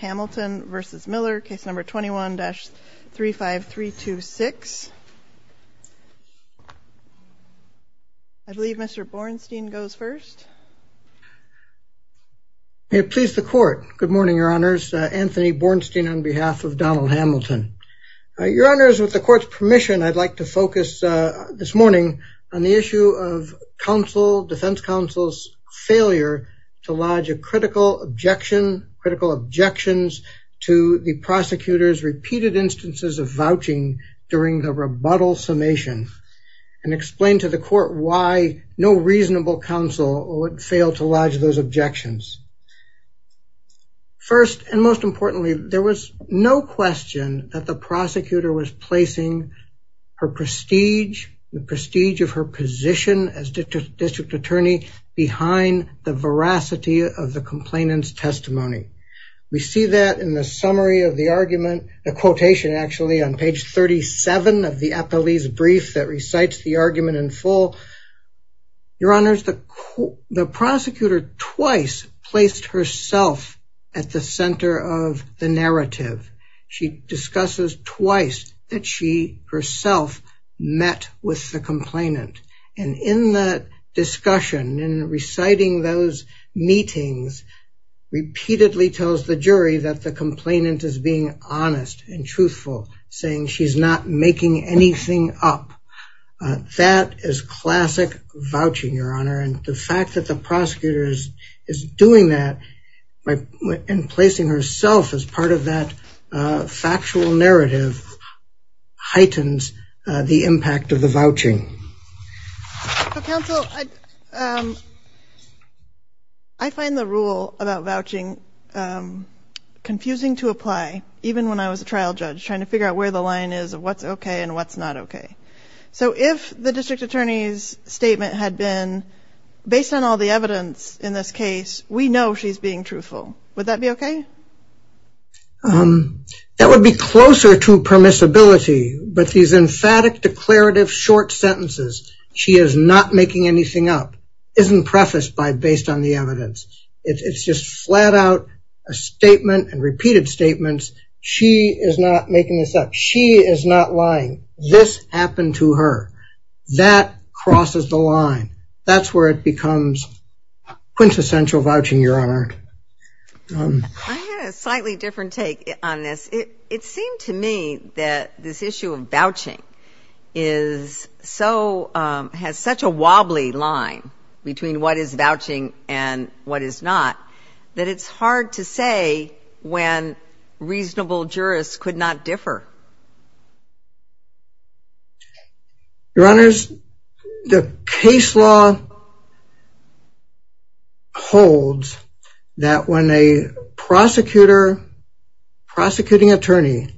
Hamilton v. Miller, Case No. 21-35326. I believe Mr. Bornstein goes first. May it please the Court. Good morning, Your Honors. Anthony Bornstein on behalf of Donald Hamilton. Your Honors, with the Court's permission, I'd like to focus this morning on the issue of counsel, defense counsel's failure to lodge a critical objection, critical objections, to the prosecutor's repeated instances of vouching during the rebuttal summation and explain to the Court why no reasonable counsel would fail to lodge those objections. First and most importantly, there was no question that the prosecutor was placing her prestige, the prestige of her position as district attorney behind the veracity of the complainant's testimony. We see that in the summary of the argument, the quotation actually on page 37 of the appellee's brief that recites the argument in full. Your Honors, the prosecutor twice placed herself at the center of the narrative. She discusses twice that she herself met with the complainant. And in that discussion, in reciting those meetings, repeatedly tells the jury that the complainant is being honest and truthful, saying she's not making anything up. That is in placing herself as part of that factual narrative, heightens the impact of the vouching. Counsel, I find the rule about vouching confusing to apply, even when I was a trial judge trying to figure out where the line is of what's okay and what's not okay. So if the district attorney's statement had been based on all the evidence in this case, we know she's being truthful. Would that be okay? That would be closer to permissibility. But these emphatic declarative short sentences, she is not making anything up, isn't prefaced by based on the evidence. It's just flat out a statement and repeated statements. She is not making this up. She is not lying. This happened to her. That crosses the line. That's where it becomes quintessential vouching, Your Honor. I had a slightly different take on this. It seemed to me that this issue of vouching has such a wobbly line between what is vouching and what is not, that it's hard to say when reasonable jurists could not differ. Your Honor, the case law holds that when a prosecutor, prosecuting attorney,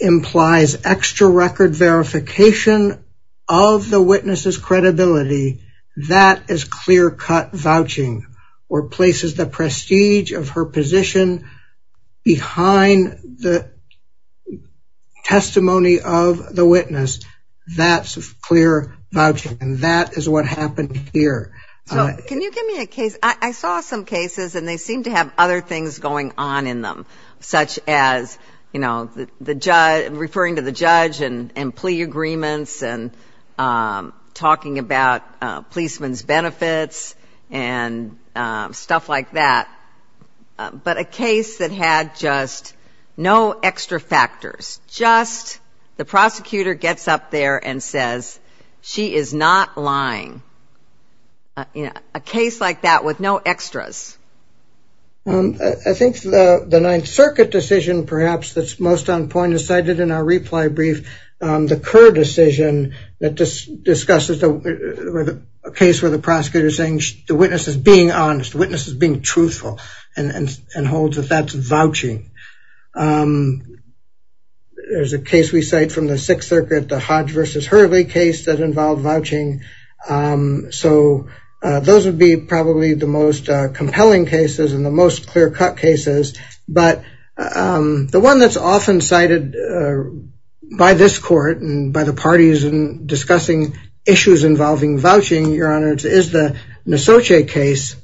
implies extra record verification of the witness's credibility, that is clear-cut vouching or places the prestige of her position behind the testimony of the witness. That's clear vouching. And that is what happened here. Can you give me a case? I saw some cases and they seem to have other things going on in them, such as referring to the judge and plea agreements and talking about policemen's benefits and stuff like that. But a case that had just no extra factors, just the prosecutor gets up there and says, she is not lying. A case like that with no extras. I think the Ninth Circuit decision, perhaps, that is most on point is cited in our reply brief. The Kerr decision that discusses a case where the prosecutor is saying the witness is being honest, the witness is being truthful and holds that that is vouching. There is a case we cite from the Sixth Circuit, the Hodge v. Hurley case that involved vouching. So those would be probably the most compelling cases and the most clear-cut cases. But the one that is often cited by this court and by the parties in discussing issues involving vouching, Your Honor, is the Nisotche case,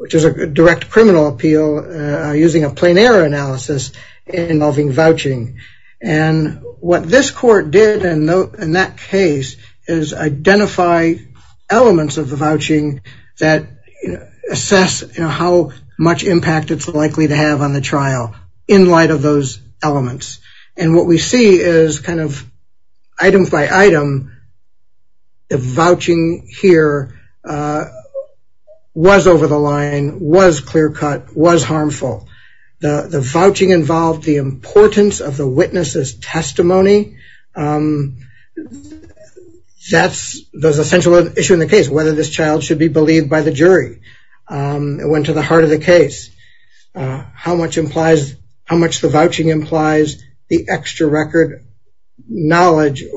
which is a direct criminal appeal using a plain error analysis involving vouching. What this court did in that case is identify elements of the vouching that assess how much impact it is likely to have on the trial in light of those elements. What we see is, item by item, the vouching here was over the line, was clear-cut, was harmful. The vouching involved the importance of the witness's testimony. That is an essential issue in the case, whether this child should be believed by the jury. It went to the heart of the case. How much the vouching implies the extra-record knowledge of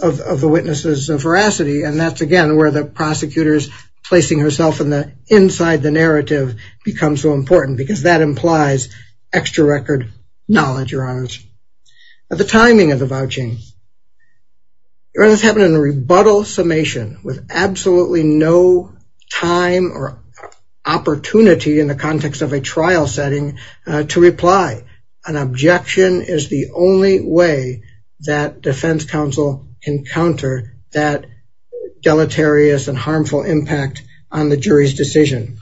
the witness's veracity. And that's again where the prosecutor's placing herself in the inside the narrative becomes so important because that implies extra-record knowledge, Your Honor. The timing of the vouching. This happened in a rebuttal summation with absolutely no time or opportunity in the context of a trial setting to reply. An objection is the only way that defense counsel can counter that deleterious and harmful impact on the jury's decision.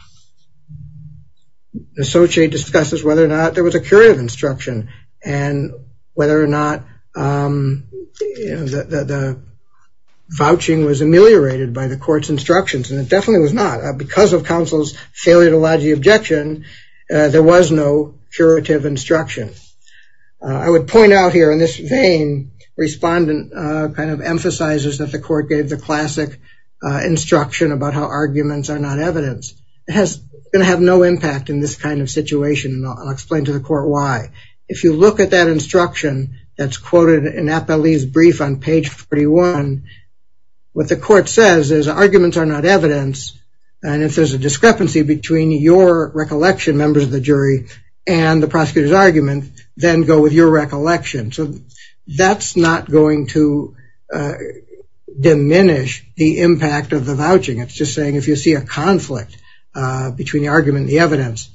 Nisotche discusses whether or not there was a curative instruction and whether or not the vouching was ameliorated by the court's instructions. And it definitely was not. Because of counsel's failure to lodge the objection, there was no curative instruction. I would point out here in this vein, respondent kind of emphasizes that the court gave the classic instruction about how arguments are not evidence. It's going to have no impact in this kind of situation. And I'll explain to the court why. If you look at that instruction that's quoted in Appellee's brief on page 41, what the court says is arguments are not evidence. And if there's a discrepancy between your recollection, members of the jury, and the prosecutor's argument, then go with your recollection. So that's not going to diminish the impact of the vouching. It's just saying if you see a conflict between the argument and the evidence,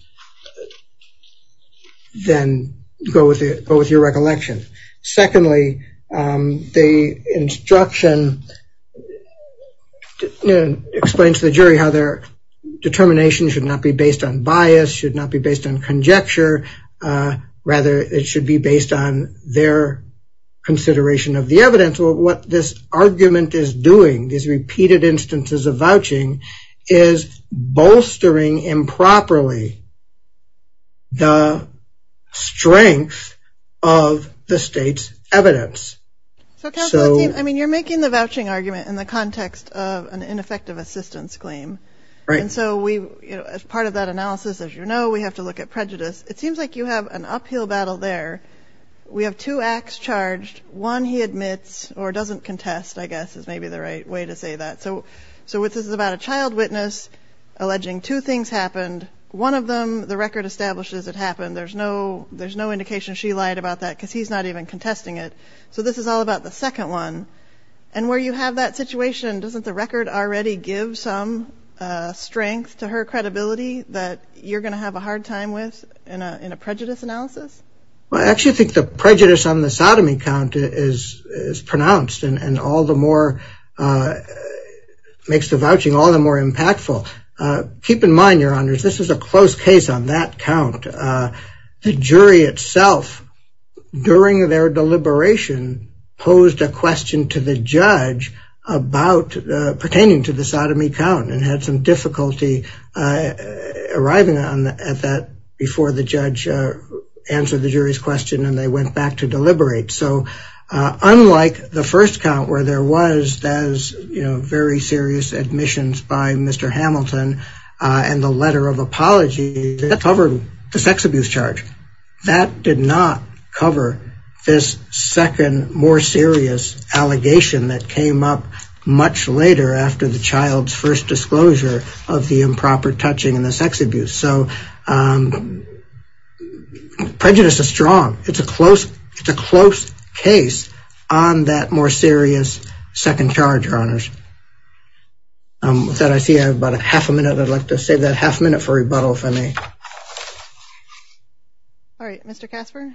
then go with your recollection. Secondly, the instruction explains to the jury how their determination should not be based on bias, should not be based on conjecture. Rather, it should be based on their consideration of the evidence. What this argument is doing, these repeated instances of vouching, is bolstering improperly the strength of the state's evidence. So counsel, you're making the vouching argument in the context of an ineffective assistance claim. And so as part of that analysis, as you know, we have to look at prejudice. It seems like you have an uphill battle there. We have two acts charged. One he admits, or doesn't contest, I guess, is maybe the right way to say that. So this is about a child witness alleging two things happened. One of them, the record establishes it happened. There's no indication she lied about that because he's not even contesting it. So this is all about the second one. And where you have that situation, doesn't the record already give some strength to her credibility that you're going to have a hard time with in a prejudice analysis? Well, I actually think the prejudice on the sodomy count is pronounced and all the more makes the vouching all the more impactful. Keep in mind, Your Honors, this is a close case on that count. The jury itself, during their deliberation, posed a question to the judge pertaining to the sodomy count and had some difficulty arriving at that before the judge answered the jury's question and they went back to deliberate. So unlike the first count where there was very serious admissions by Mr. Hamilton and the letter of apology that covered the sex abuse charge, that did not cover this second, more serious allegation that came up much later after the child's first disclosure of the It's a close case on that more serious second charge, Your Honors. With that, I see I have about half a minute. I'd like to save that half a minute for rebuttal, if I may. Alright, Mr. Casper?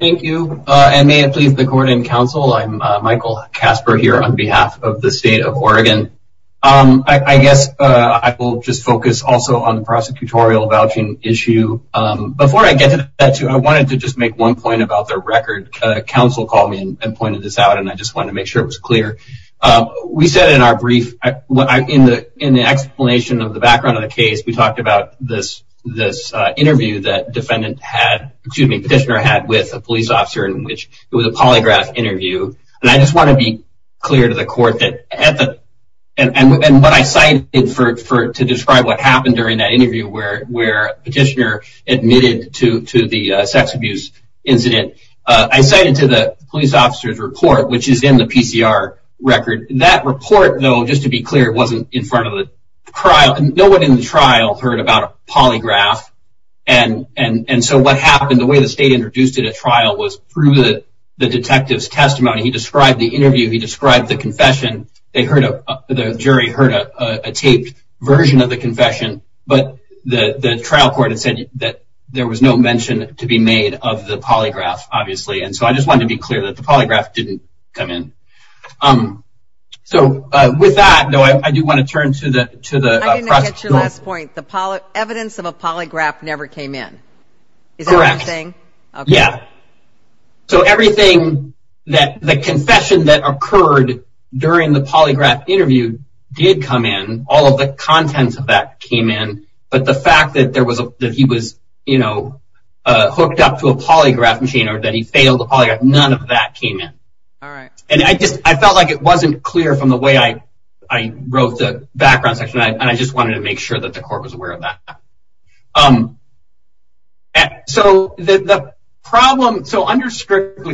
Thank you, and may it please the Court and Counsel, I'm Michael Casper here on behalf of the State of Oregon. I guess I will just focus also on the prosecutorial vouching issue. Before I get to that issue, I wanted to just make one point about the record. Counsel called me and pointed this out and I just wanted to make sure it was clear. We said in our brief, in the explanation of the background of the case, we talked about this interview that Petitioner had with a police officer in which it was a polygraph interview, and I just want to be clear to the Court that and what I cited to describe what happened during that interview where Petitioner admitted to the sex abuse incident, I cited to the police officer's report which is in the PCR record. That report, though, just to be clear, wasn't in front of the trial. No one in the trial heard about a polygraph, and so what happened, the way the State the jury heard a taped version of the confession, but the trial court said that there was no mention to be made of the polygraph, obviously, and so I just wanted to be clear that the polygraph didn't come in. So with that, I do want to turn to the I didn't catch your last point. The evidence of a polygraph never came in. Correct. So everything, the confession that occurred during the polygraph interview did come in. All of the contents of that came in. But the fact that he was hooked up to a polygraph machine, or that he failed the polygraph, none of that came in. I felt like it wasn't clear from the way I wrote the background section and I just wanted to make sure that the court was aware of that. The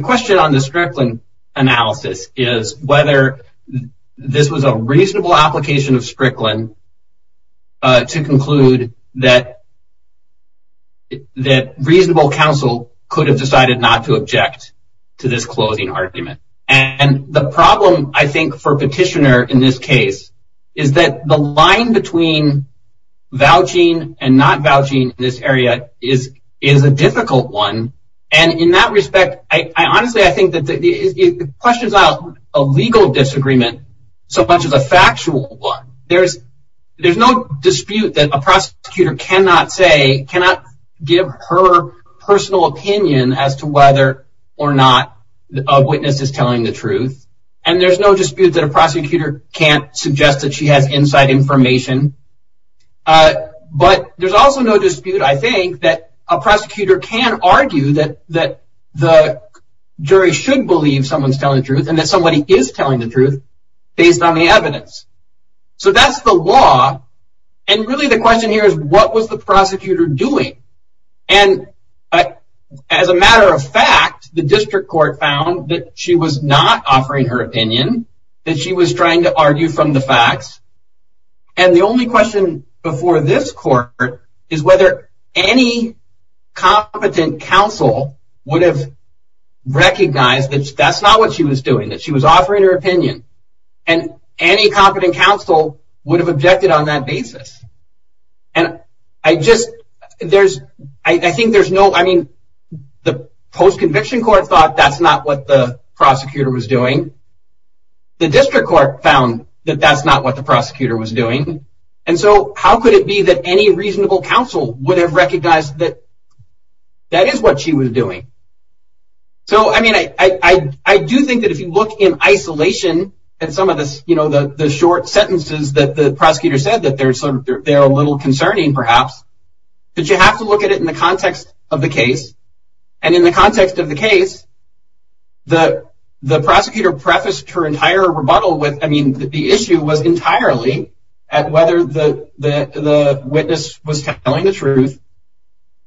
question on the Strickland analysis is whether this was a reasonable application of Strickland to conclude that reasonable counsel could have decided not to object to this closing argument. And the problem, I think, for Petitioner in this case, is that the line between vouching and not vouching in this area is a difficult one. And in that respect, I honestly think that it questions out a legal disagreement so much as a factual one. There's no dispute that a prosecutor cannot say, cannot give her personal opinion as to whether or not a witness is telling the truth. And there's no dispute that a prosecutor can't suggest that she has inside information. But there's also no dispute, I think, that a prosecutor can argue that the jury should believe someone's telling the truth and that somebody is telling the truth based on the evidence. So that's the law. And really the question here is, what was the prosecutor doing? And as a matter of fact, the district court found that she was not offering her opinion, that she was trying to argue from the facts. And the only question before this court is whether any competent counsel would have recognized that that's not what she was doing, that she was offering her opinion. And any competent counsel would have objected on that basis. And I just, there's, I think there's no, I mean, the post-conviction court thought that's not what the prosecutor was doing. The district court found that that's not what the prosecutor was doing. And so how could it be that any reasonable counsel would have recognized that that is what she was doing? So, I mean, I do think that if you look in isolation and some of this, you know, the short sentences that the prosecutor said that they're sort of, they're a little concerning perhaps, but you have to look at it in the context of the case. And in the context of the case, the prosecutor prefaced her entire rebuttal with, I mean, the issue was entirely at whether the witness was telling the truth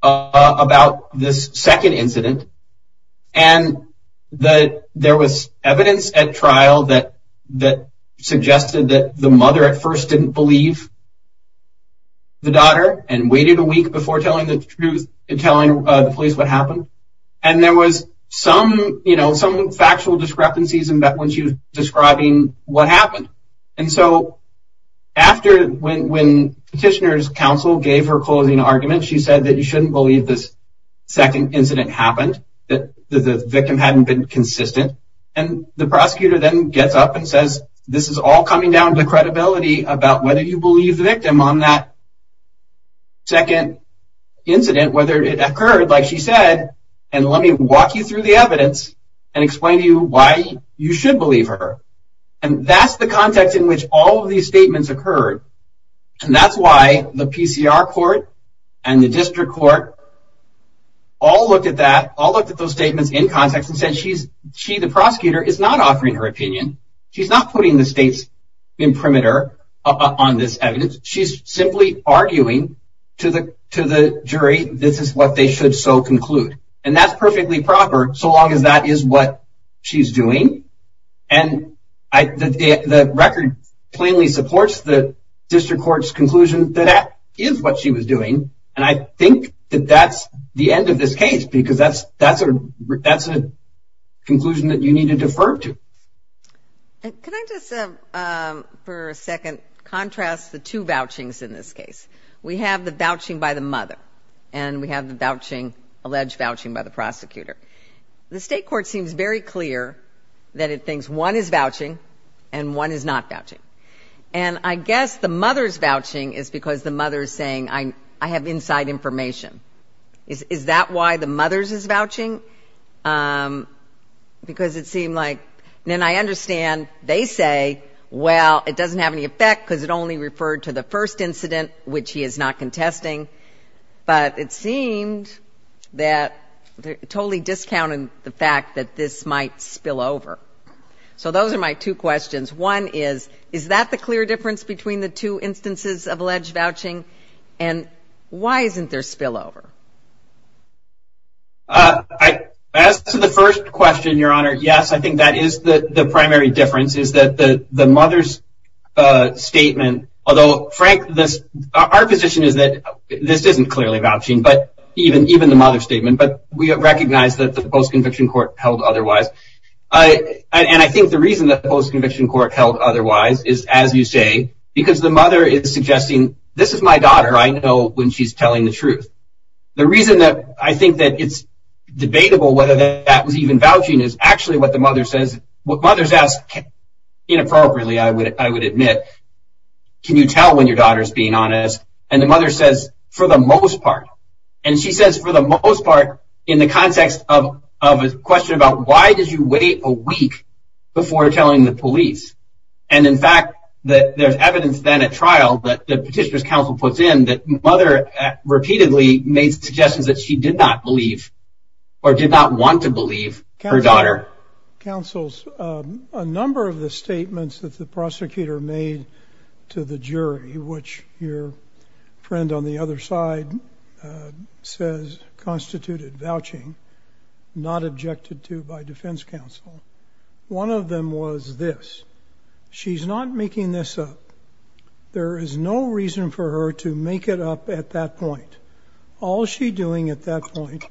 about this second incident and that there was evidence at trial that suggested that the mother at first didn't believe the daughter and waited a week before telling the truth and telling the police what happened. And there was some, you know, some factual discrepancies in that when she was describing what happened. And so, after, when petitioner's counsel gave her closing argument, she said that you shouldn't believe this second incident happened, that the victim hadn't been consistent. And the prosecutor then gets up and says, this is all coming down to credibility about whether you believe the victim on that second incident, whether it occurred, like she said, and let me walk you through the evidence and explain to you why you should believe her. And that's the context in which all of these statements occurred. And that's why the PCR court and the district court all looked at that, all looked at those statements in context and said, she, the prosecutor, is not offering her opinion. She's not putting the state's imprimatur on this evidence. She's simply arguing to the jury, this is what they should so conclude. And that's perfectly proper, so long as that is what she's doing. And the record plainly supports the district court's conclusion that that is what she was doing. And I think that that's the end of this case, because that's a conclusion that you need to defer to. Can I just, for a second, contrast the two vouchings in this case? We have the vouching by the mother and we have the alleged vouching by the prosecutor. The state court seems very clear that it thinks one is vouching and one is not vouching. And I guess the mother's vouching is because the mother is saying, I have inside information. Is that why the mother's is vouching? Because it seemed like, and I understand they say, well, it doesn't have any effect because it only referred to the first incident, which he is not contesting. But it seemed that they're totally discounting the fact that this might be the first of two instances of alleged vouching. And why isn't there spillover? As to the first question, Your Honor, yes, I think that is the primary difference, is that the mother's statement, although, Frank, our position is that this isn't clearly vouching, even the mother's statement. But we recognize that the post-conviction court held otherwise. And I think the reason that the post-conviction court held otherwise is, as you say, because the mother is suggesting, this is my daughter. I know when she's telling the truth. The reason that I think that it's debatable whether that was even vouching is actually what the mother says. What the mother's asked, inappropriately, I would admit, can you tell when your daughter's being honest? And the mother says, for the most part. And she says, for the most part, in the context of a question about why did you wait a week before telling the police? And in fact, there's evidence then at trial that the Petitioner's Counsel puts in that the mother repeatedly made suggestions that she did not believe or did not want to believe her daughter. Counsel, a number of the statements that the prosecutor made to the jury, which your friend on the other side says constituted vouching, not objected to by defense counsel. One of them was this. She's not making this up. There is no reason for her to make it up at that point. All she's doing at that point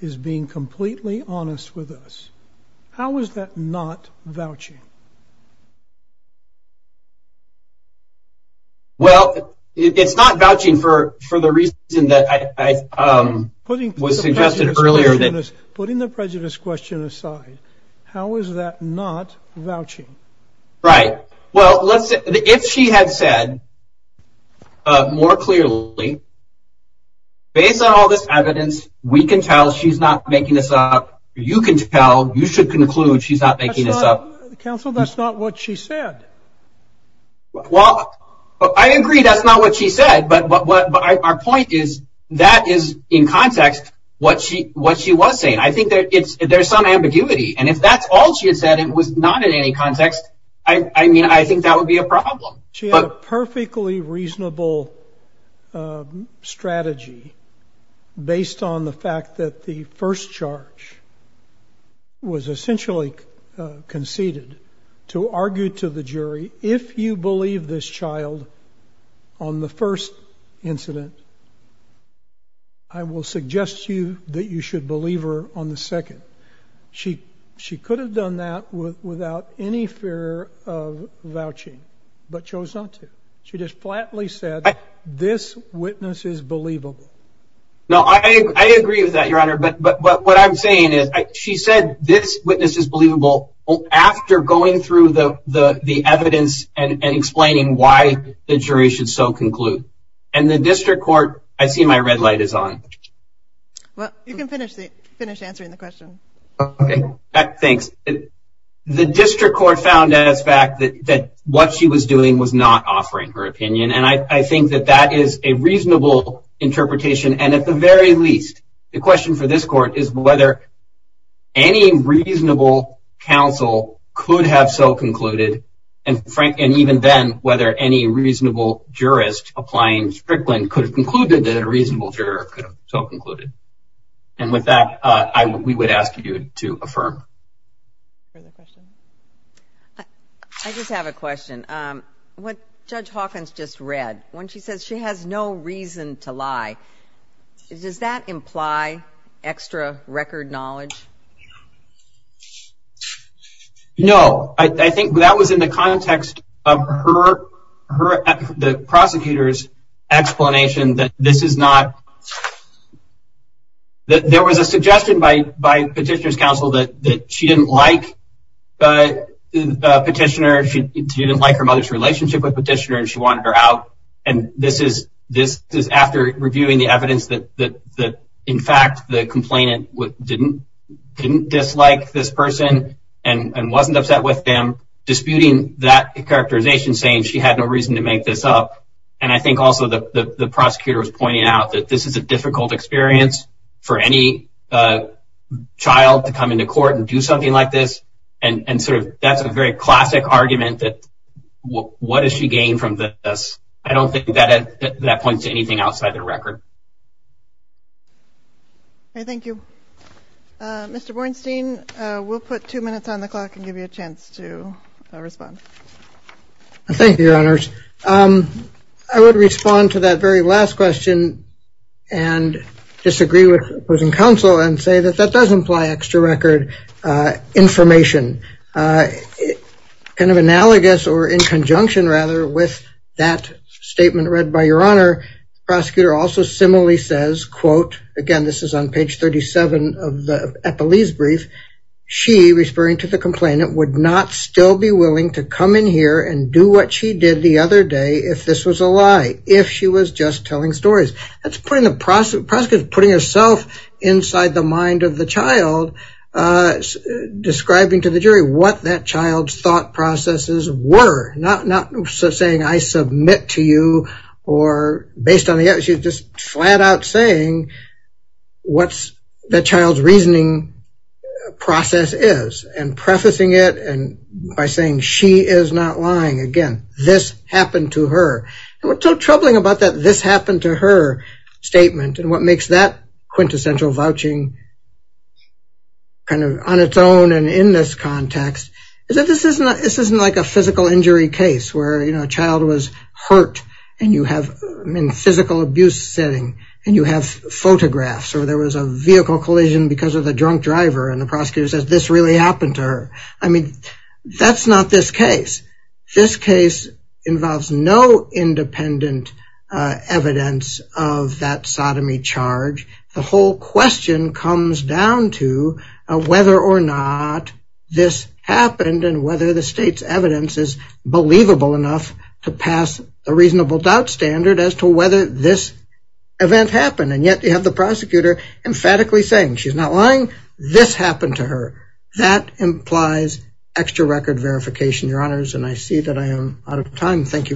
is being completely honest with us. How is that not vouching? Well, it's not vouching for the reason that was suggested earlier. Putting the prejudice question aside, how is that not vouching? Right. Well, if she had said more clearly, based on all this evidence, we can tell she's not making this up. You can tell. You should conclude she's not making this up. Counsel, that's not what she said. I agree that's not what she said, but our point is that is in context what she was saying. I think there's some ambiguity, and if that's all she had said and it was not in any context, I mean, I think that would be a problem. She had a perfectly reasonable strategy based on the fact that the first charge was essentially conceded to argue to the jury, if you believe this child on the first incident, I will suggest to you that you should believe her on the second. She could have done that without any fear of vouching, but chose not to. She just flatly said this witness is believable. No, I agree with that, Your Honor, but what I'm saying is she said this witness is believable after going through the evidence and explaining why the jury should so conclude. And the district court, I see my red light is on. You can finish answering the question. Thanks. The district court found out as a fact that what she was doing was not offering her opinion, and I think that that is a reasonable interpretation, and at the very least, the question for this court is whether any reasonable counsel could have so concluded, and even then, whether any reasonable jurist applying Strickland could have concluded that a reasonable juror could have so concluded. And with that, we would ask you to affirm. I just have a question. What Judge Hawkins just read, when she says she has no reason to lie, does that imply extra record knowledge? No, I think that was in the context of her, the prosecutor's explanation that this is not, that there was a suggestion by the petitioner. She didn't like her mother's relationship with the petitioner, and she wanted her out. And this is after reviewing the evidence that, in fact, the complainant didn't dislike this person and wasn't upset with them, disputing that characterization, saying she had no reason to make this up. And I think also the prosecutor was pointing out that this is a difficult experience for any child to come into court and do something like this, and sort of, that's a very classic argument that, what does she gain from this? I don't think that points to anything outside the record. Thank you. Mr. Bornstein, we'll put two minutes on the clock and give you a chance to respond. Thank you, Your Honors. I would respond to that very last question and disagree with opposing counsel and say that that does imply extra record information. Kind of analogous, or in conjunction, rather, with that statement read by Your Honor, the prosecutor also similarly says, quote, again, this is on page 37 of the Eppelee's brief, she, responding to the complainant, would not still be willing to come in here and do what she did the other day if this was a lie, if she was just telling stories. That's putting herself inside the mind of the child, describing to the jury what that child's thought processes were, not saying I submit to you or, based on the evidence, she's just flat out saying what that child's reasoning process is, and prefacing it by saying she is not lying. Again, this happened to her. What's so troubling about that this happened to her statement, and what makes that quintessential vouching kind of on its own and in this context, is that this isn't like a physical injury case where a child was hurt in a physical abuse setting, and you have photographs, or there was a vehicle collision because of a drunk driver, and the prosecutor says this really happened to her. I mean, that's not this case. This case involves no independent evidence of that sodomy charge. The whole question comes down to whether or not this happened and whether the state's evidence is believable enough to pass a reasonable doubt standard as to whether this event happened, and yet you have the prosecutor emphatically saying she's not lying. This happened to her. That implies extra record verification, Your Honors, and I see that I am out of time. Thank you very much.